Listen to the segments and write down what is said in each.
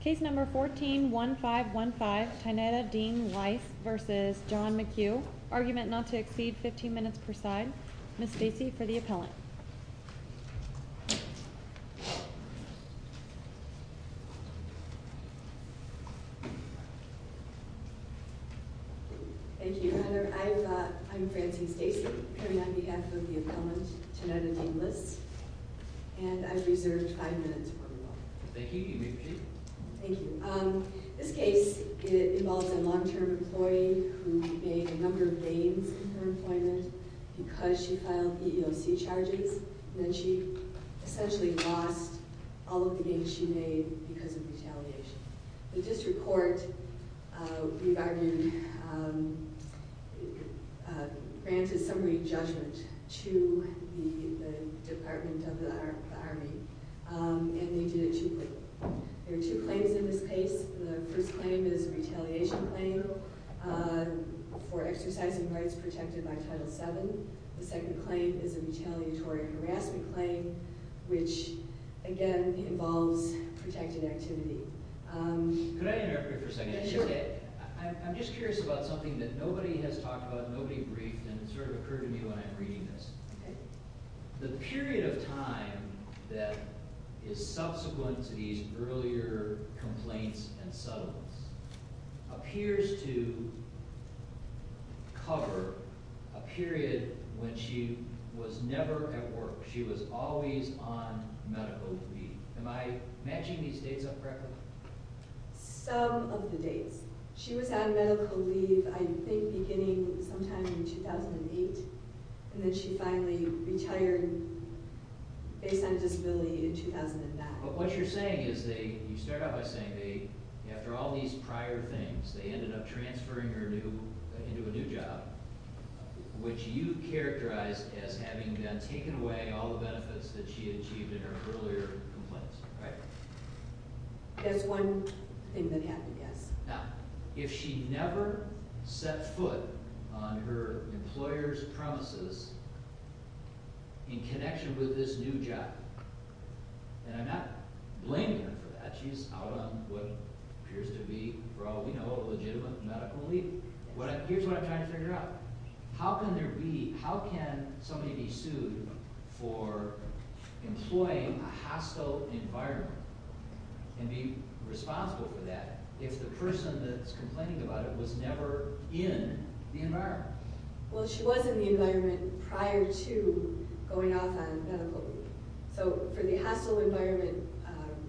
Case No. 14-1515, Tynnetta Dean-Lis v. John McHugh Argument not to exceed 15 minutes per side Ms. Stacy for the appellant Thank you, Your Honor. I'm Francie Stacy appearing on behalf of the appellant, Tynnetta Dean-Lis and I've reserved five minutes for rebuttal Thank you. You may proceed Thank you. This case involves a long-term employee who made a number of gains in her employment because she filed EEOC charges and then she essentially lost all of the gains she made because of retaliation The district court, we've argued, granted summary judgment to the Department of the Army and they did it cheaply There are two claims in this case The first claim is a retaliation claim for exercising rights protected by Title VII The second claim is a retaliatory harassment claim which, again, involves protected activity Could I interrupt you for a second? Sure I'm just curious about something that nobody has talked about and nobody briefed and it sort of occurred to me when I'm reading this The period of time that is subsequent to these earlier complaints and settlements appears to cover a period when she was never at work She was always on medical leave Am I matching these dates up correctly? Some of the dates She was on medical leave, I think, beginning sometime in 2008 and then she finally retired based on disability in 2009 But what you're saying is you start out by saying after all these prior things they ended up transferring her into a new job which you characterize as having taken away all the benefits that she achieved in her earlier complaints Right? That's one thing that happened, yes Now, if she never set foot on her employer's premises in connection with this new job and I'm not blaming her for that She's out on what appears to be, for all we know, a legitimate medical leave Here's what I'm trying to figure out How can there be How can somebody be sued for employing a hostile environment and be responsible for that if the person that's complaining about it was never in the environment? Well, she was in the environment prior to going off on medical leave So, for the hostile environment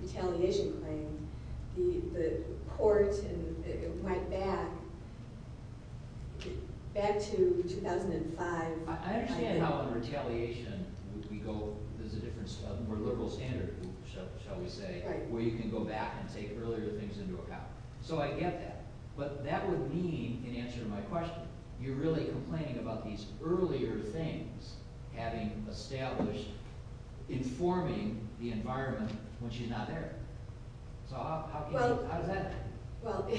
retaliation claim the court went back back to 2005 I understand how on retaliation we go, there's a difference a more liberal standard, shall we say where you can go back and take earlier things into account So, I get that But that would mean, in answer to my question you're really complaining about these earlier things having established informing the environment when she's not there So, how is that? Well,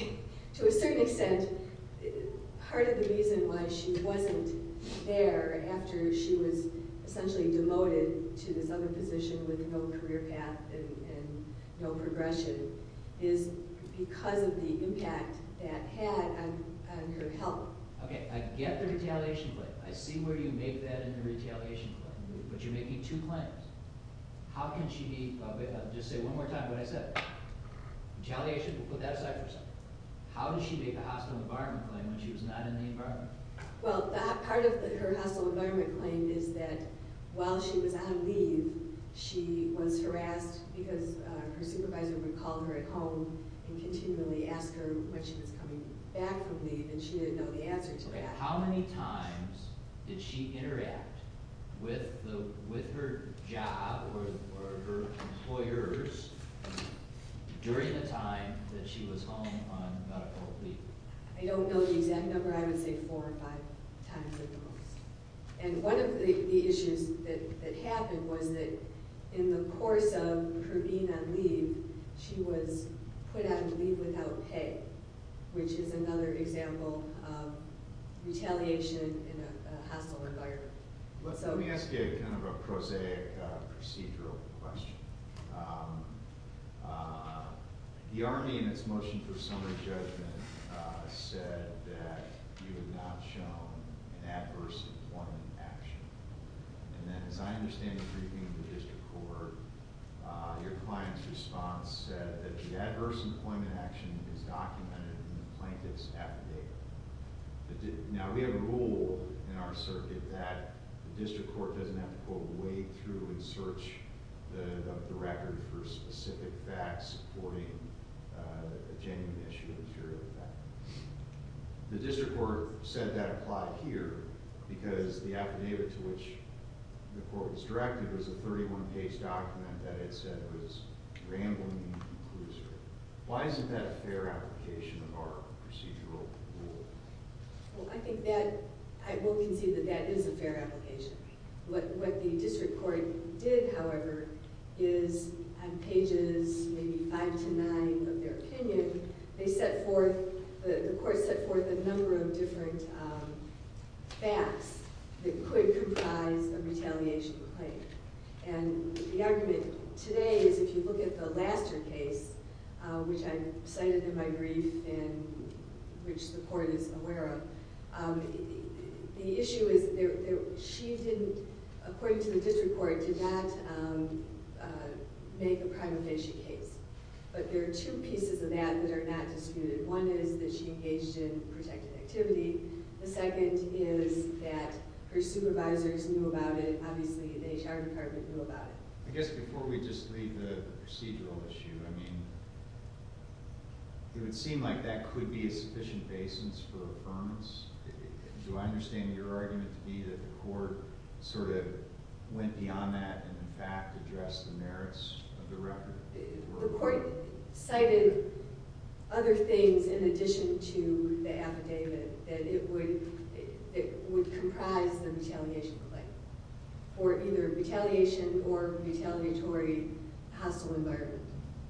to a certain extent part of the reason why she wasn't there after she was essentially demoted to this other position with no career path and no progression is because of the impact that had on her health Okay, I get the retaliation claim I see where you make that in the retaliation claim But you're making two claims How can she be I'll just say one more time what I said Retaliation, we'll put that aside for a second How did she make a hostile environment claim when she was not in the environment? Well, part of her hostile environment claim is that while she was on leave she was harassed because her supervisor would call her at home and continually ask her when she was coming back from leave and she didn't know the answer to that Okay, how many times did she interact with her job or her employers during the time that she was home on medical leave? I don't know the exact number I would say four or five times at the most And one of the issues that happened was that in the course of her being on leave she was put out of leave without pay which is another example of retaliation in a hostile environment Let me ask you kind of a prosaic procedural question The Army in its motion for summary judgment said that you have not shown an adverse employment action And then as I understand the briefing of the district court your client's response said that the adverse employment action is documented in the plaintiff's affidavit Now we have a rule in our circuit that the district court doesn't have to go way through and search the record for specific facts supporting a genuine issue of inferior effect The district court said that applied here because the affidavit to which the court was directed was a 31-page document that it said was rambling and conclusive Why isn't that a fair application of our procedural rule? Well I think that, I will concede that that is a fair application What the district court did however is on pages maybe 5-9 of their opinion they set forth, the court set forth a number of different facts that could comprise a retaliation claim And the argument today is if you look at the Laster case which I cited in my brief and which the court is aware of The issue is, she didn't According to the district court, did not make a prima facie case But there are two pieces of that that are not disputed One is that she engaged in protected activity The second is that her supervisors knew about it Obviously the HR department knew about it I guess before we just leave the procedural issue I mean, it would seem like that could be a sufficient basis for affirmance Do I understand your argument to be that the court sort of went beyond that and in fact addressed the merits of the record? The court cited other things in addition to the affidavit that it would comprise the retaliation claim for either retaliation or retaliatory hostile environment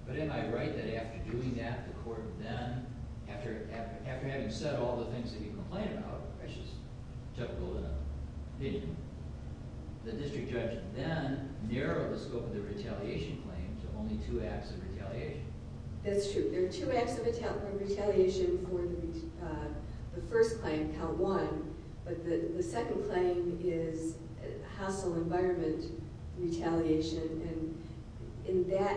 But am I right that after doing that the court then after having said all the things that you complained about which is Chuck Goldin The district judge then narrowed the scope of the retaliation claim to only two acts of retaliation That's true, there are two acts of retaliation for the first claim, count one but the second claim is hostile environment retaliation and in that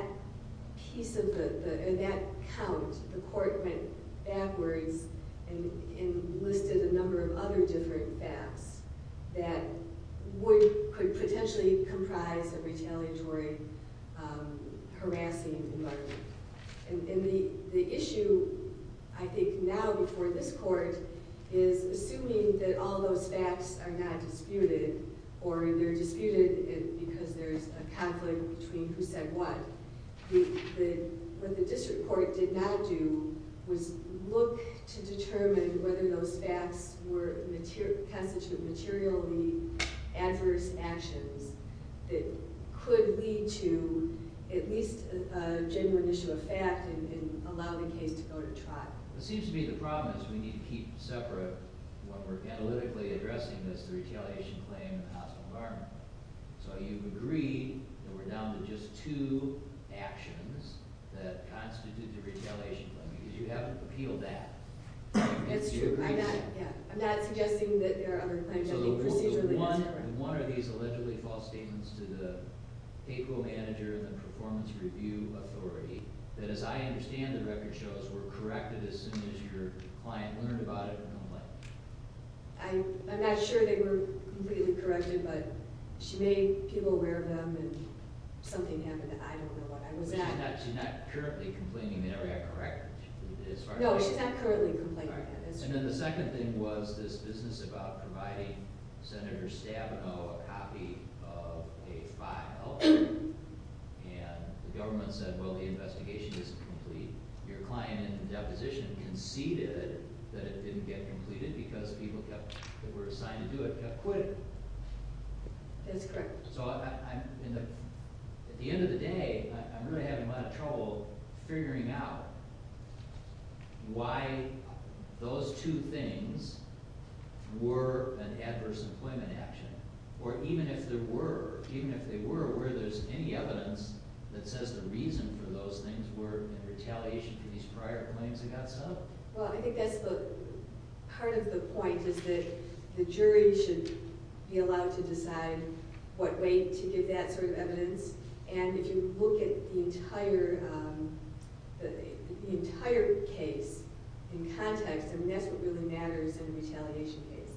piece of the in that count, the court went backwards and listed a number of other different facts that could potentially comprise a retaliatory harassing environment and the issue I think now before this court is assuming that all those facts are not disputed or they're disputed because there's a conflict between who said what What the district court did not do was look to determine whether those facts were constituted materially adverse actions that could lead to at least a genuine issue of fact and allow the case to go to trial It seems to be the problem is we need to keep separate what we're analytically addressing is the retaliation claim and the hostile environment So you agree that we're down to just two actions that constitute the retaliation claim because you haven't appealed that That's true, yeah I'm not suggesting that there are other claims So the one of these allegedly false statements to the payroll manager and the performance review authority that as I understand the record shows were corrected as soon as your client learned about it and went away I'm not sure they were completely corrected but she made people aware of them and something happened that I don't know what She's not currently complaining they never got corrected No, she's not currently complaining And then the second thing was this business about providing Senator Stabenow a copy of a file and the government said, well, the investigation isn't complete Your client in the deposition conceded that it didn't get completed because people that were assigned to do it That's correct So at the end of the day I'm really having a lot of trouble figuring out why those two things were an adverse employment action or even if they were where there's any evidence that says the reason for those things were in retaliation for these prior claims that got subbed Well, I think that's part of the point is that the jury should be allowed to decide what way to give that sort of evidence and if you look at the entire case in context I mean, that's what really matters in a retaliation case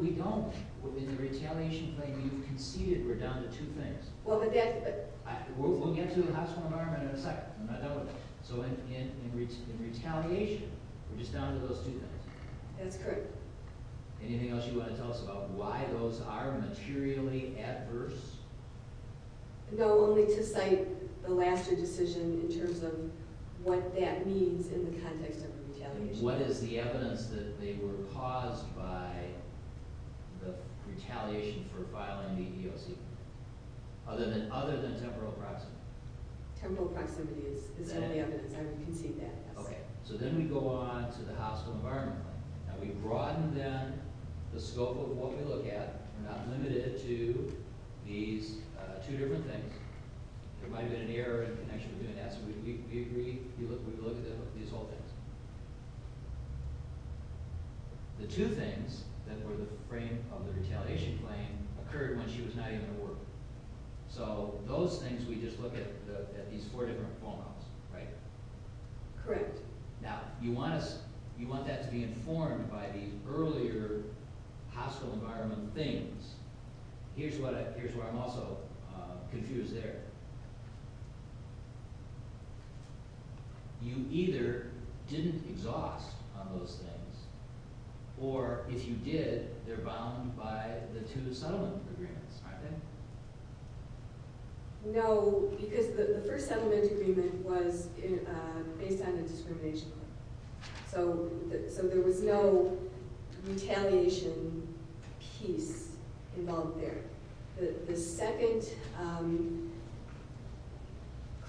We don't, in the retaliation claim you've conceded we're down to two things Well, but that's We'll get to the hospital environment in a second So in retaliation, we're just down to those two things That's correct Anything else you want to tell us about why those are materially adverse? No, only to cite the last year decision in terms of what that means in the context of the retaliation What is the evidence that they were caused by the retaliation for filing the EEOC? Other than temporal proximity Temporal proximity is the evidence I would concede that, yes So then we go on to the hospital environment Now, we broaden, then, the scope of what we look at We're not limited to these two different things There might have been an error in connection with doing that So we look at these whole things The two things that were the frame of the retaliation claim occurred when she was not even at work So those things we just look at at these four different phone calls, right? Correct Now, you want that to be informed by the earlier hospital environment things Here's where I'm also confused there You either didn't exhaust on those things or, if you did, they're bound by the two settlement agreements Aren't they? No, because the first settlement agreement was based on a discrimination claim So there was no retaliation piece involved there The second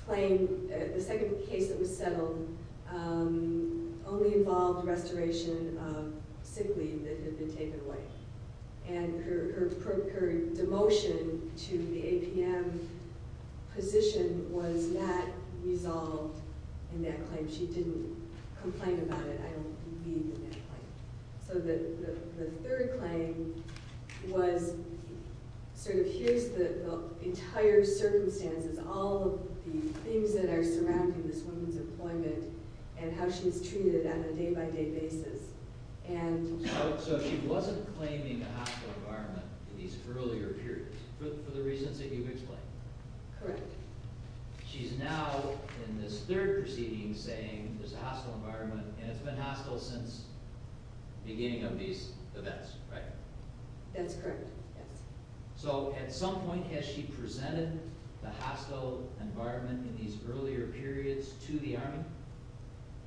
claim, the second case that was settled only involved restoration of sick leave that had been taken away And her demotion to the APM position was not resolved in that claim She didn't complain about it I don't believe in that claim So the third claim was sort of, here's the entire circumstances all of the things that are surrounding this woman's employment and how she's treated on a day-by-day basis So she wasn't claiming a hospital environment in these earlier periods for the reasons that you've explained Correct She's now, in this third proceeding, saying there's a hospital environment and it's been hostile since the beginning of these events, right? That's correct, yes So, at some point, has she presented the hospital environment in these earlier periods to the Army?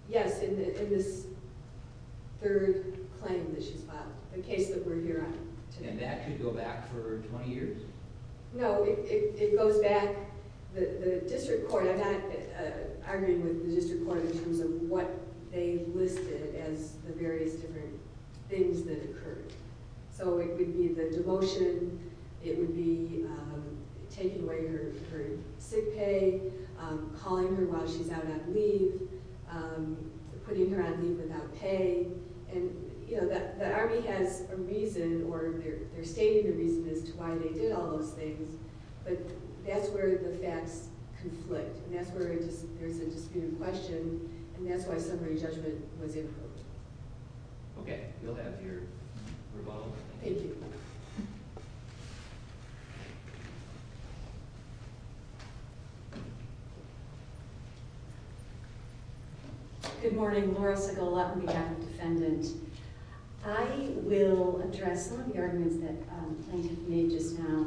Yes, in this third claim that she's filed the case that we're here on today And that could go back for 20 years? No, it goes back the district court I'm not arguing with the district court in terms of what they listed as the various different things that occurred So it would be the demotion it would be taking away her sick pay calling her while she's out on leave putting her on leave without pay And, you know, the Army has a reason or they're stating the reason as to why they did all those things but that's where the facts conflict and that's where there's a disputed question and that's why summary judgment was improved Okay, we'll have your rebuttal Thank you Good morning, Laura Segal on behalf of Defendant I will address some of the arguments that the plaintiff made just now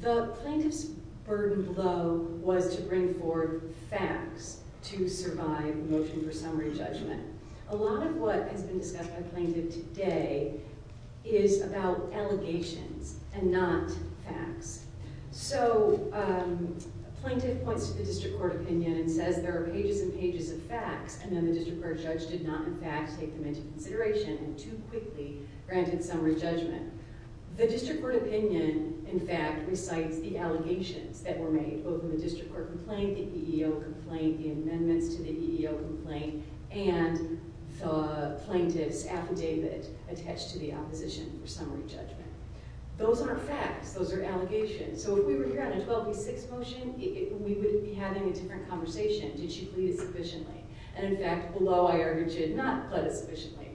The plaintiff's burden below was to bring forward facts to survive motion for summary judgment A lot of what has been discussed by the plaintiff today is about allegations and not facts So the plaintiff points to the district court opinion and says there are pages and pages of facts and then the district court judge did not in fact take them into consideration and too quickly granted summary judgment The district court opinion in fact recites the allegations that were made both in the district court complaint the EEO complaint the amendments to the EEO complaint and the plaintiff's affidavit attached to the opposition for summary judgment Those aren't facts Those are allegations So if we were here on a 12 v. 6 motion we wouldn't be having a different conversation Did she plead it sufficiently? And in fact below I argued she did not plead it sufficiently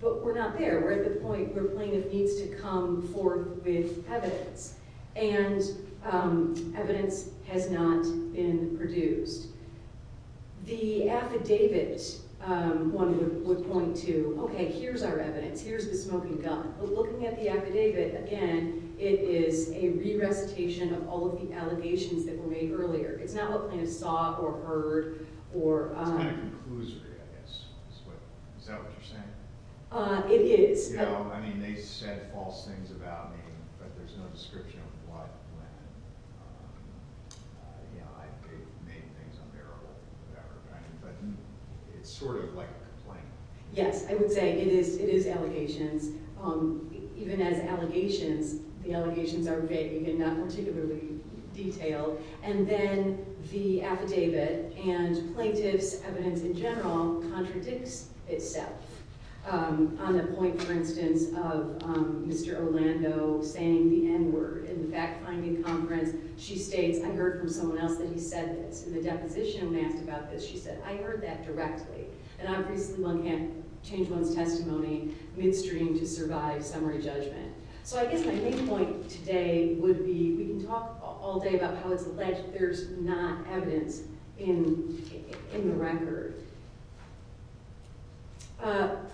But we're not there We're at the point where the plaintiff needs to come forward with evidence and evidence has not been produced The affidavit would point to Okay, here's our evidence Here's the smoking gun But looking at the affidavit again it is a re-recitation of all of the allegations that were made earlier It's not what plaintiff saw or heard It's kind of conclusory I guess Is that what you're saying? It is You know, I mean they said false things about me but there's no description of what when I made things unbearable or whatever But it's sort of like a complaint Yes, I would say it is allegations Even as allegations the allegations are vague and not particularly detailed And then the affidavit and plaintiff's evidence in general contradicts itself On the point for instance of Mr. Orlando saying the N-word in the fact-finding conference She states I heard from someone else that he said this In the deposition when asked about this she said I heard that directly And obviously one can't change one's testimony midstream to survive summary judgment So I guess my main point today would be we can talk all day about how it's alleged there's not evidence in the record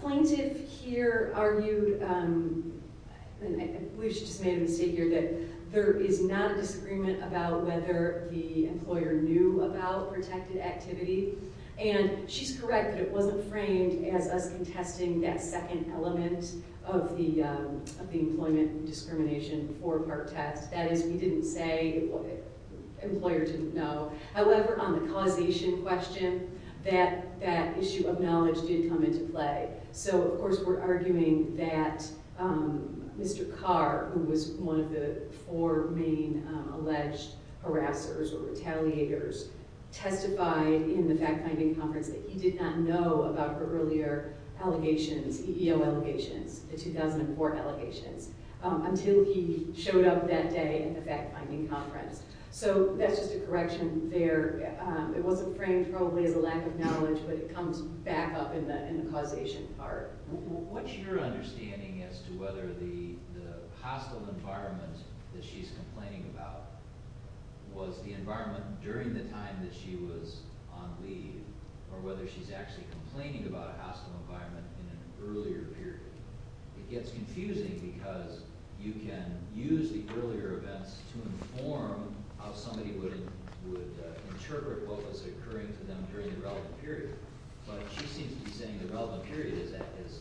Plaintiff here argued I believe she just made a mistake here that there is not a disagreement about whether the employer knew about protected activity And she's correct that it wasn't framed as us contesting that second element of the employment discrimination before part test That is we didn't say the employer didn't know However on the causation question that issue of knowledge did come into play So of course we're arguing that Mr. Carr who was one of the four main alleged harassers or retaliators testified in the fact-finding conference that he did not know about her earlier allegations EEO allegations the 2004 allegations until he showed up that day in the fact-finding conference So that's just a correction there It wasn't framed probably as a lack of knowledge but it comes back up in the causation part What's your understanding as to whether the hostile environment that she's complaining about was the environment during the time that she was on leave or whether she's actually complaining about a hostile environment in an earlier period It gets confusing because you can use the earlier events to inform how somebody would interpret what was occurring to them during the relevant period But she seems to be saying the relevant period is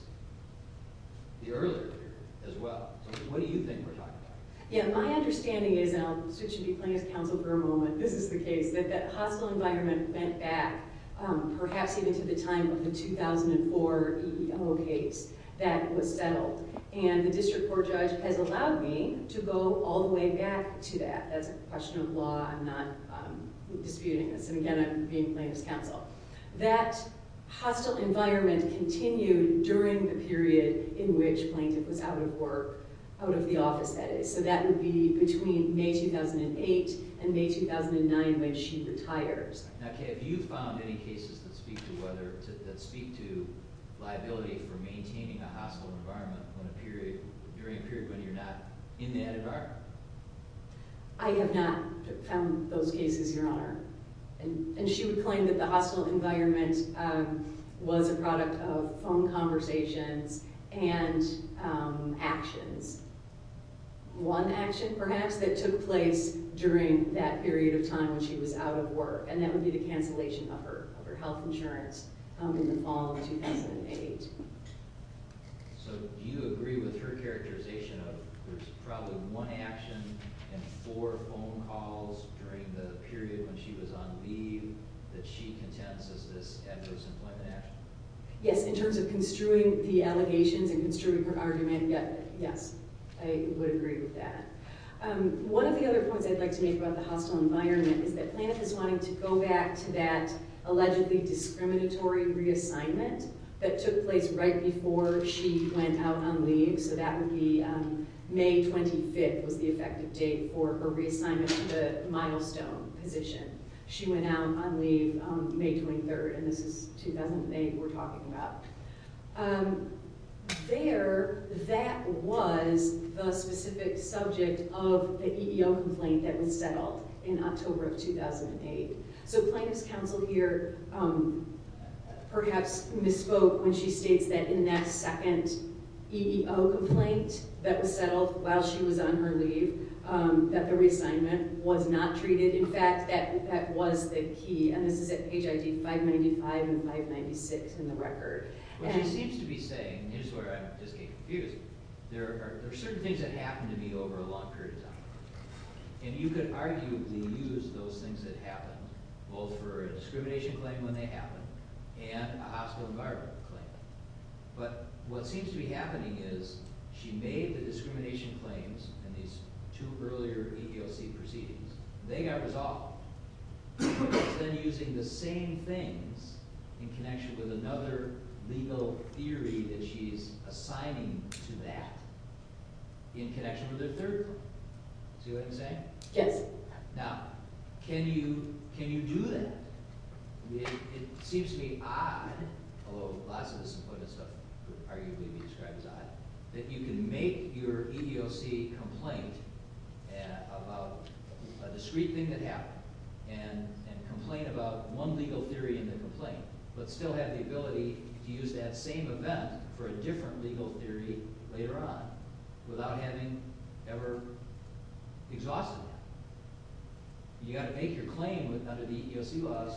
the earlier period as well So what do you think we're talking about? Yeah, my understanding is and I'll switch and be playing as counsel for a moment This is the case that that hostile environment went back perhaps even to the time of the 2004 EEO case that was settled And the district court judge has allowed me to go all the way back to that That's a question of law I'm not disputing this And again, I'm being playing as counsel That hostile environment continued during the period in which Plaintiff was out of work out of the office, that is So that would be between May 2008 and May 2009 when she retires Now Kay, have you found any cases that speak to whether, that speak to liability for maintaining a hostile environment when a period during a period when you're not in that environment? I have not found those cases, Your Honor And she would claim that the hostile environment was a product of phone conversations and actions One action perhaps that took place during that period of time when she was out of work and that would be the cancellation of her health insurance in the fall of 2008 So do you agree with her characterization of there's probably one action and four phone calls during the period when she was on leave that she contends as this adverse employment action? Yes, in terms of construing the allegations and construing her argument Yes, I would agree with that One of the other points I'd like to make about the hostile environment is that Planoff is wanting to go back to that allegedly discriminatory reassignment that took place right before she went out on leave So that would be May 25th was the effective date for her reassignment to the milestone position She went out on leave May 23rd and this is 2008 we're talking about There, that was the specific subject of the EEO complaint that was settled in October of 2008 So Planoff's counsel here perhaps misspoke when she states that in that second EEO complaint that was settled while she was on her leave that the reassignment was not treated In fact, that was the key and this is at page ID 595 and 596 in the record What she seems to be saying is where I just get confused There are certain things that happen to me over a long period of time and you could arguably use those things that happen both for a discrimination claim when they happen and a hospital environment claim but what seems to be happening is she made the discrimination claims and these two earlier EEOC proceedings they got resolved instead of using the same things in connection with another legal theory that she's assigning to that in connection with her third claim See what I'm saying? Yes Now, can you do that? It seems to be odd although lots of this employment stuff would arguably be described as odd that you can make your EEOC complaint about a discrete thing that happened and complain about one legal theory in the complaint but still have the ability to use that same event for a different legal theory later on without having ever exhausted that You gotta make your claim under the EEOC laws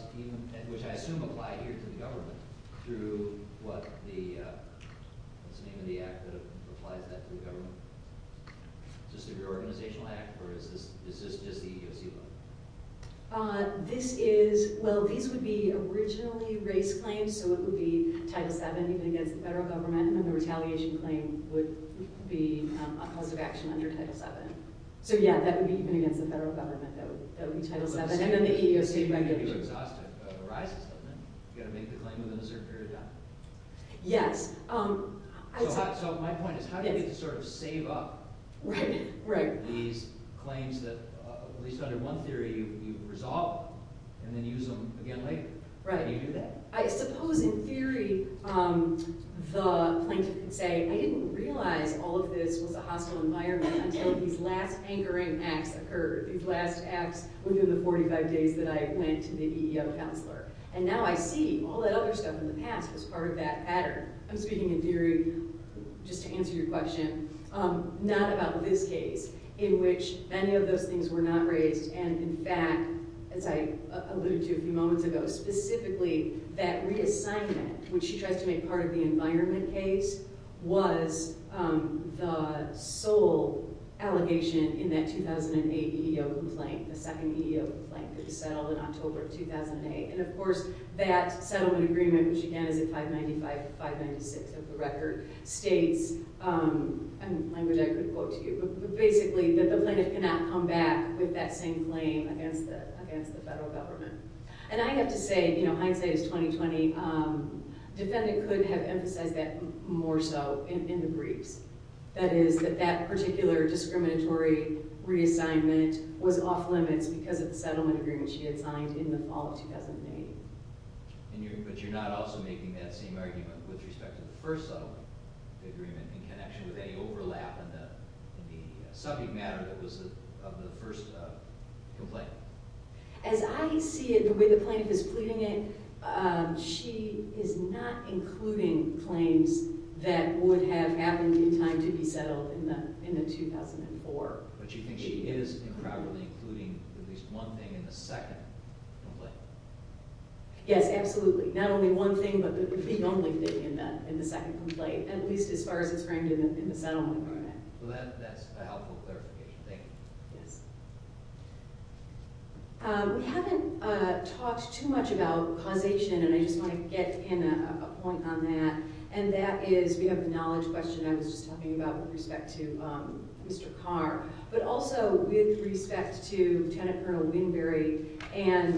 which I assume apply here to the government through what the what's the name of the act that applies that to the government? Is this an organizational act or is this just the EEOC law? This is well, these would be originally race claims so it would be Title VII even against the federal government and then the retaliation claim would be a positive action under Title VII So yeah, that would be even against the federal government that would be Title VII and then the EEOC regulation You gotta make the claim within a certain period of time Yes So my point is how do you sort of save up these claims that at least under one theory you resolve and then use them again later? How do you do that? I suppose in theory the plaintiff could say I didn't realize all of this was a hostile environment until these last anchoring acts occurred these last acts within the 45 days that I went to the EEO counselor and now I see all that other stuff in the past was part of that pattern I'm speaking in theory just to answer your question not about this case in which many of those things were not raised and in fact as I alluded to a few moments ago specifically that reassignment which she tries to make part of the environment case was the sole allegation in that 2008 EEO complaint the second EEO complaint that was settled in October of 2008 and of course that settlement agreement which again is a 595-596 of the record states a language I couldn't quote to you but basically that the plaintiff cannot come back with that same claim against the federal government and I have to say hindsight is 20-20 defendant could have emphasized that more so in the briefs that is that that particular discriminatory reassignment was off limits because of the settlement agreement she had signed in the fall of 2008 but you're not also making that same argument with respect to the first settlement agreement in connection with any overlap in the subject matter that was of the first complaint as I see it the way the plaintiff is pleading it she is not including claims that would have happened in time to be settled in the in the 2004 but you think she is incorporating at least one thing in the second complaint yes absolutely not only one thing but the only thing in the in the second complaint at least as far as it's framed in the settlement agreement well that that's a helpful clarification thank you yes we haven't talked too much about causation and I just want to get in a point on that and that is we have the knowledge question I was just talking about with respect to Mr. Carr but also with respect to Lieutenant Colonel Winbury and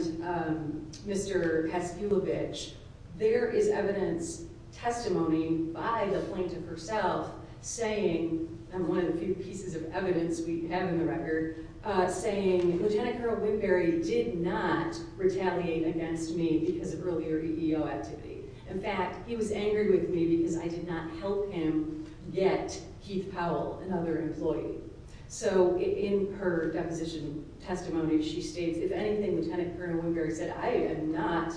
Mr. Kaskulovich there is evidence testimony by the plaintiff herself saying and one of the few pieces of evidence we have in the record saying Lieutenant Colonel Winbury did not retaliate against me because of earlier EO activity in fact he was angry with me because I did not help him get Keith Powell another employee so in her deposition testimony she states if anything Lieutenant Colonel Winbury said I am not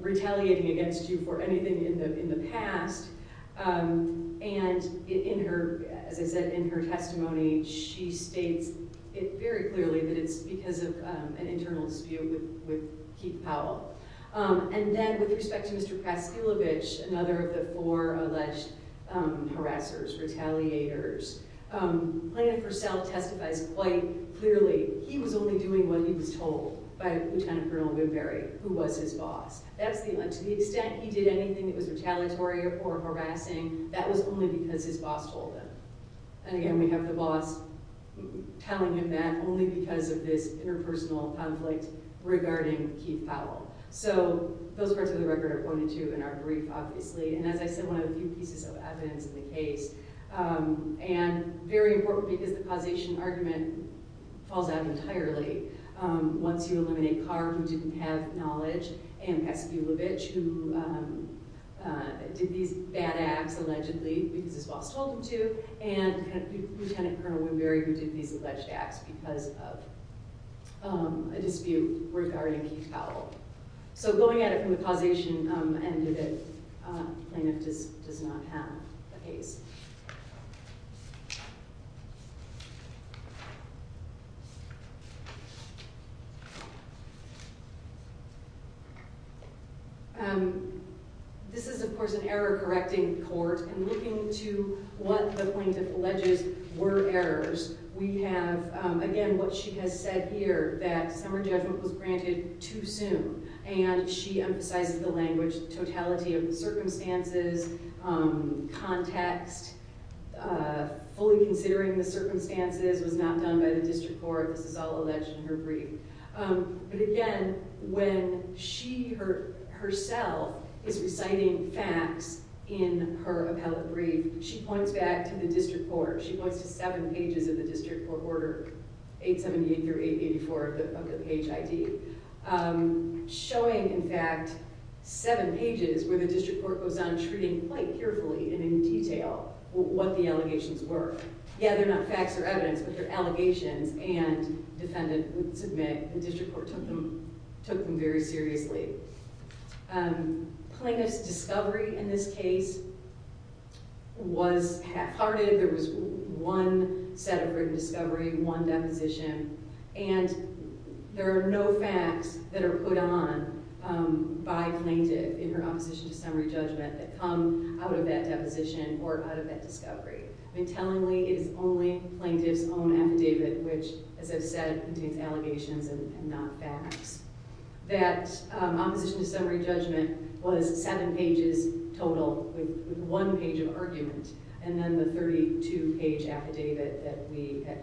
retaliating against you for anything in the past and in her as I said in her testimony she states it very clearly that it's because of an internal dispute with Keith Powell and then with respect to Mr. Kaskulovich another of the four alleged harassers retaliators plaintiff herself testifies quite clearly he was only doing what he was told by Lieutenant Colonel Winbury who was his boss to the extent he did anything that was retaliatory or harassing that was only because his boss told him and again we have the boss telling him that only because of this interpersonal conflict regarding Keith Powell so those parts of the record are pointed to in our brief obviously and as I said one of the few pieces of evidence in the case and very important because the causation argument falls out entirely once you eliminate Carr who didn't have knowledge and Kaskulovich who did these bad acts allegedly because his boss told him to and Lieutenant Colonel Winbury who did these alleged acts because of a dispute regarding Keith Powell so going at it from the causation end of it plaintiff does not have the case this is of course an error correcting court and looking to what the plaintiff alleges were errors we have again what she has said here that summer judgment was granted too soon and she emphasizes the language totality of the circumstances context fully considering the circumstances was not done by the district court this is all alleged in her brief but again when she herself is reciting facts in her appellate brief she points back to the district court she points to seven pages of the district court order 878-884 of the page ID showing in fact seven pages where the district court goes on treating quite carefully and in detail what the district court took them very seriously plaintiff's discovery in this case was half-hearted there was one set of written discovery one deposition and there are no facts that are put on by plaintiff in her opposition to summary judgment that come out of that deposition or out of that discovery I mean tellingly it is only plaintiff's own affidavit which as I said contains allegations and not facts that opposition to summary judgment was seven pages total with one page of argument and then the 32 page affidavit that we have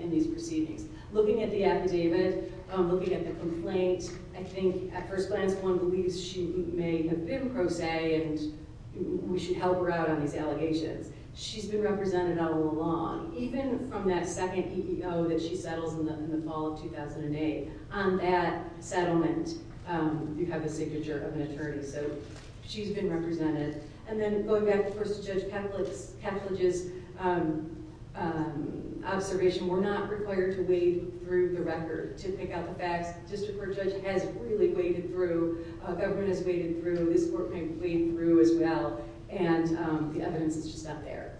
in these proceedings looking at the affidavit looking at the complaint I think at first glance one believes she may have been pro se and we should help her out on these allegations she's been represented all along even from that second EEO that she settles in the fall of 2008 on that settlement you have a signature of an attorney so she's been represented and then going back of course to Judge Kavlage's observation we're not required to wade through the record to pick out the facts the district court judge has really waded through government has waded through this court may have waded through as well and the evidence is just not there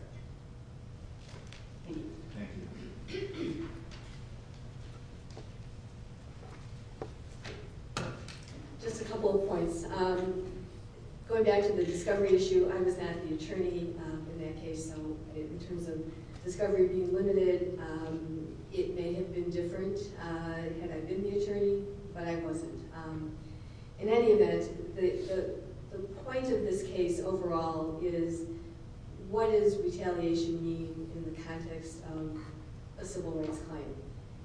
just a couple of points going back to the discovery issue I was not the attorney in that case so in terms of discovery being limited it may have been different had I been the attorney but I wasn't in any event the point of this case overall is what does retaliation mean in the context of a civil rights claim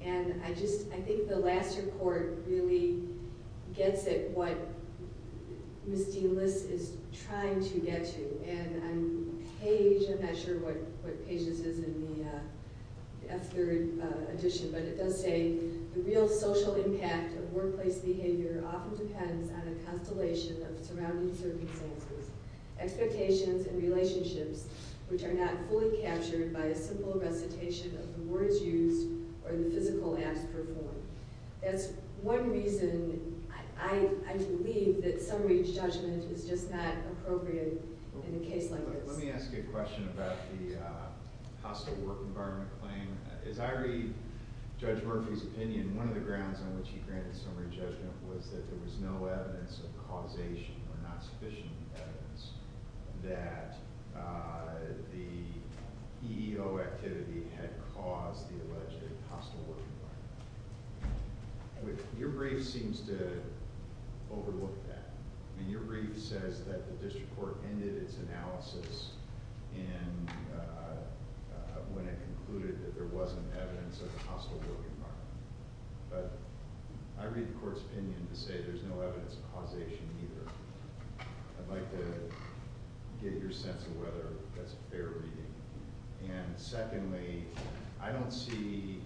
and I think the last report really gets it what Ms. Dean-Liss is trying to get to and I'm not sure what pages is in the F3 edition but it does say the real social impact of workplace behavior often depends on a constellation of surrounding circumstances expectations and relationships which are not fully captured by a simple recitation of the words used or the physical acts performed by who is in that position. So that's one reason I believe that summary judgment is just not appropriate in a case like this. Let me ask a question about the hostile work environment claim. As I read Judge Kagan's opinion, your brief seems to overlook that. Your brief says that the district court ended its analysis when it concluded that there wasn't evidence of a hostile work environment. I read the court's opinion to say there's no evidence of causation either. I'd like to get your sense of whether that's a fair reading. And secondly, I don't see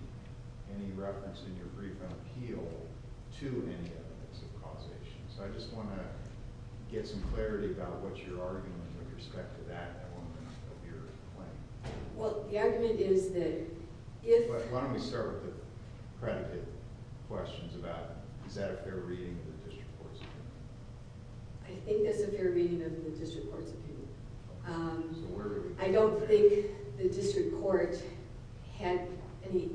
any reference in your brief on appeal to any evidence of causation. So I just want to get some clarity about what your argument with respect to that element of your claim. Well, the argument is that if... Why don't we start with the predicate questions about is that a fair reading of the district court's opinion? I think that's a of the district court's opinion. I don't think the district court had any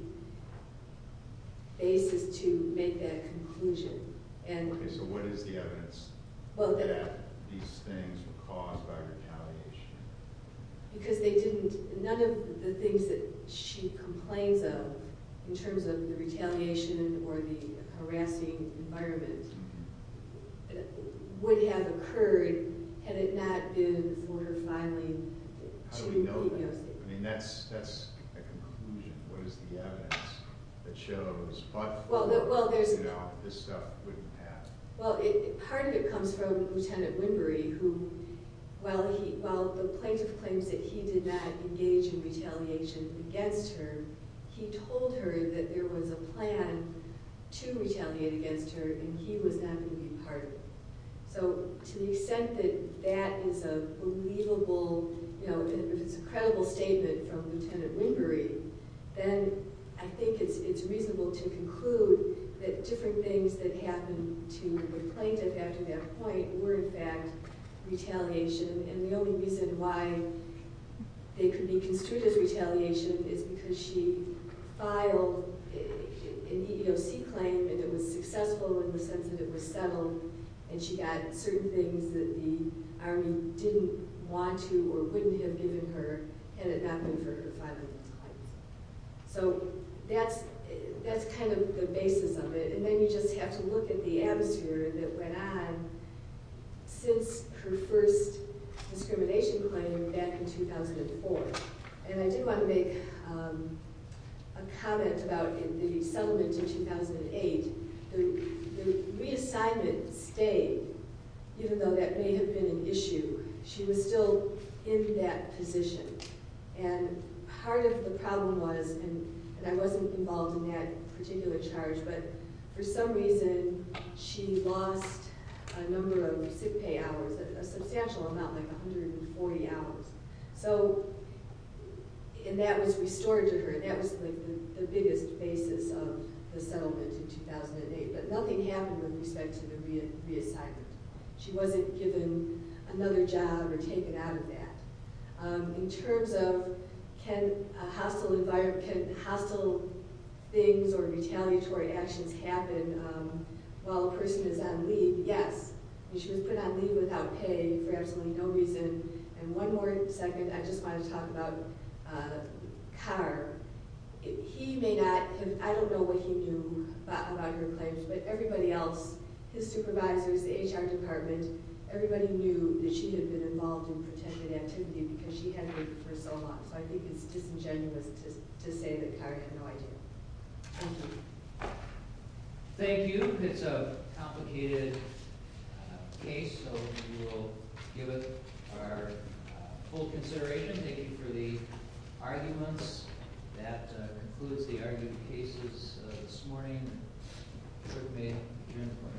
basis to make that conclusion. So what is the evidence that these things were caused by retaliation? Because they didn't... None of the things that she complains of, in terms of or the harassing environment, would have occurred had it not been for her filing to be... How do we know that? I mean, that's a conclusion. What is the evidence that shows that the plaintiff claims that he did not engage in retaliation against her, he told her that there was a plan to retaliate against her and he was not going to be part of it. So to the extent that that is a believable... If it's a credible statement from Lieutenant Wimbery, then I think it's reasonable to conclude that different things that happened to the plaintiff after that point were, in fact, retaliation and the only reason why they could be construed as retaliation is because she filed an EEOC claim and it was successful in the sense that it was settled and she got certain things that the Army didn't want to or wouldn't have given her and it not been for her filing those claims. So that's kind of the basis of it and then you just have to look at the atmosphere that went on since her first discrimination claim back in 2004 and I did want to make a comment about the settlement in 2008. The reassignment stayed even though that may have been an issue. She was still in that position and part of the problem was and I wasn't involved in that particular charge but for some reason she lost a number of sick pay hours, a substantial amount like 140 hours so and that was the biggest basis of the settlement in 2008 but nothing happened with respect to the reassignment. She wasn't given another job or taken out of that. In terms of can hostile things or retaliatory actions happen while a person is on leave, yes. She was put on leave without pay for absolutely no reason and one more second. I just want to talk about Carr. He may not have, I don't know what he knew about her claims but everybody else, his supervisors, the HR department, everybody knew that she had been involved in protected activity because she had worked for so long. So I think it's disingenuous to say that Carr had no idea. Thank you. Thank you. It's a complicated case so we will give it our full consideration. Thank you for the arguments. That concludes the argument cases this morning. I'm sure you'll be here in the morning.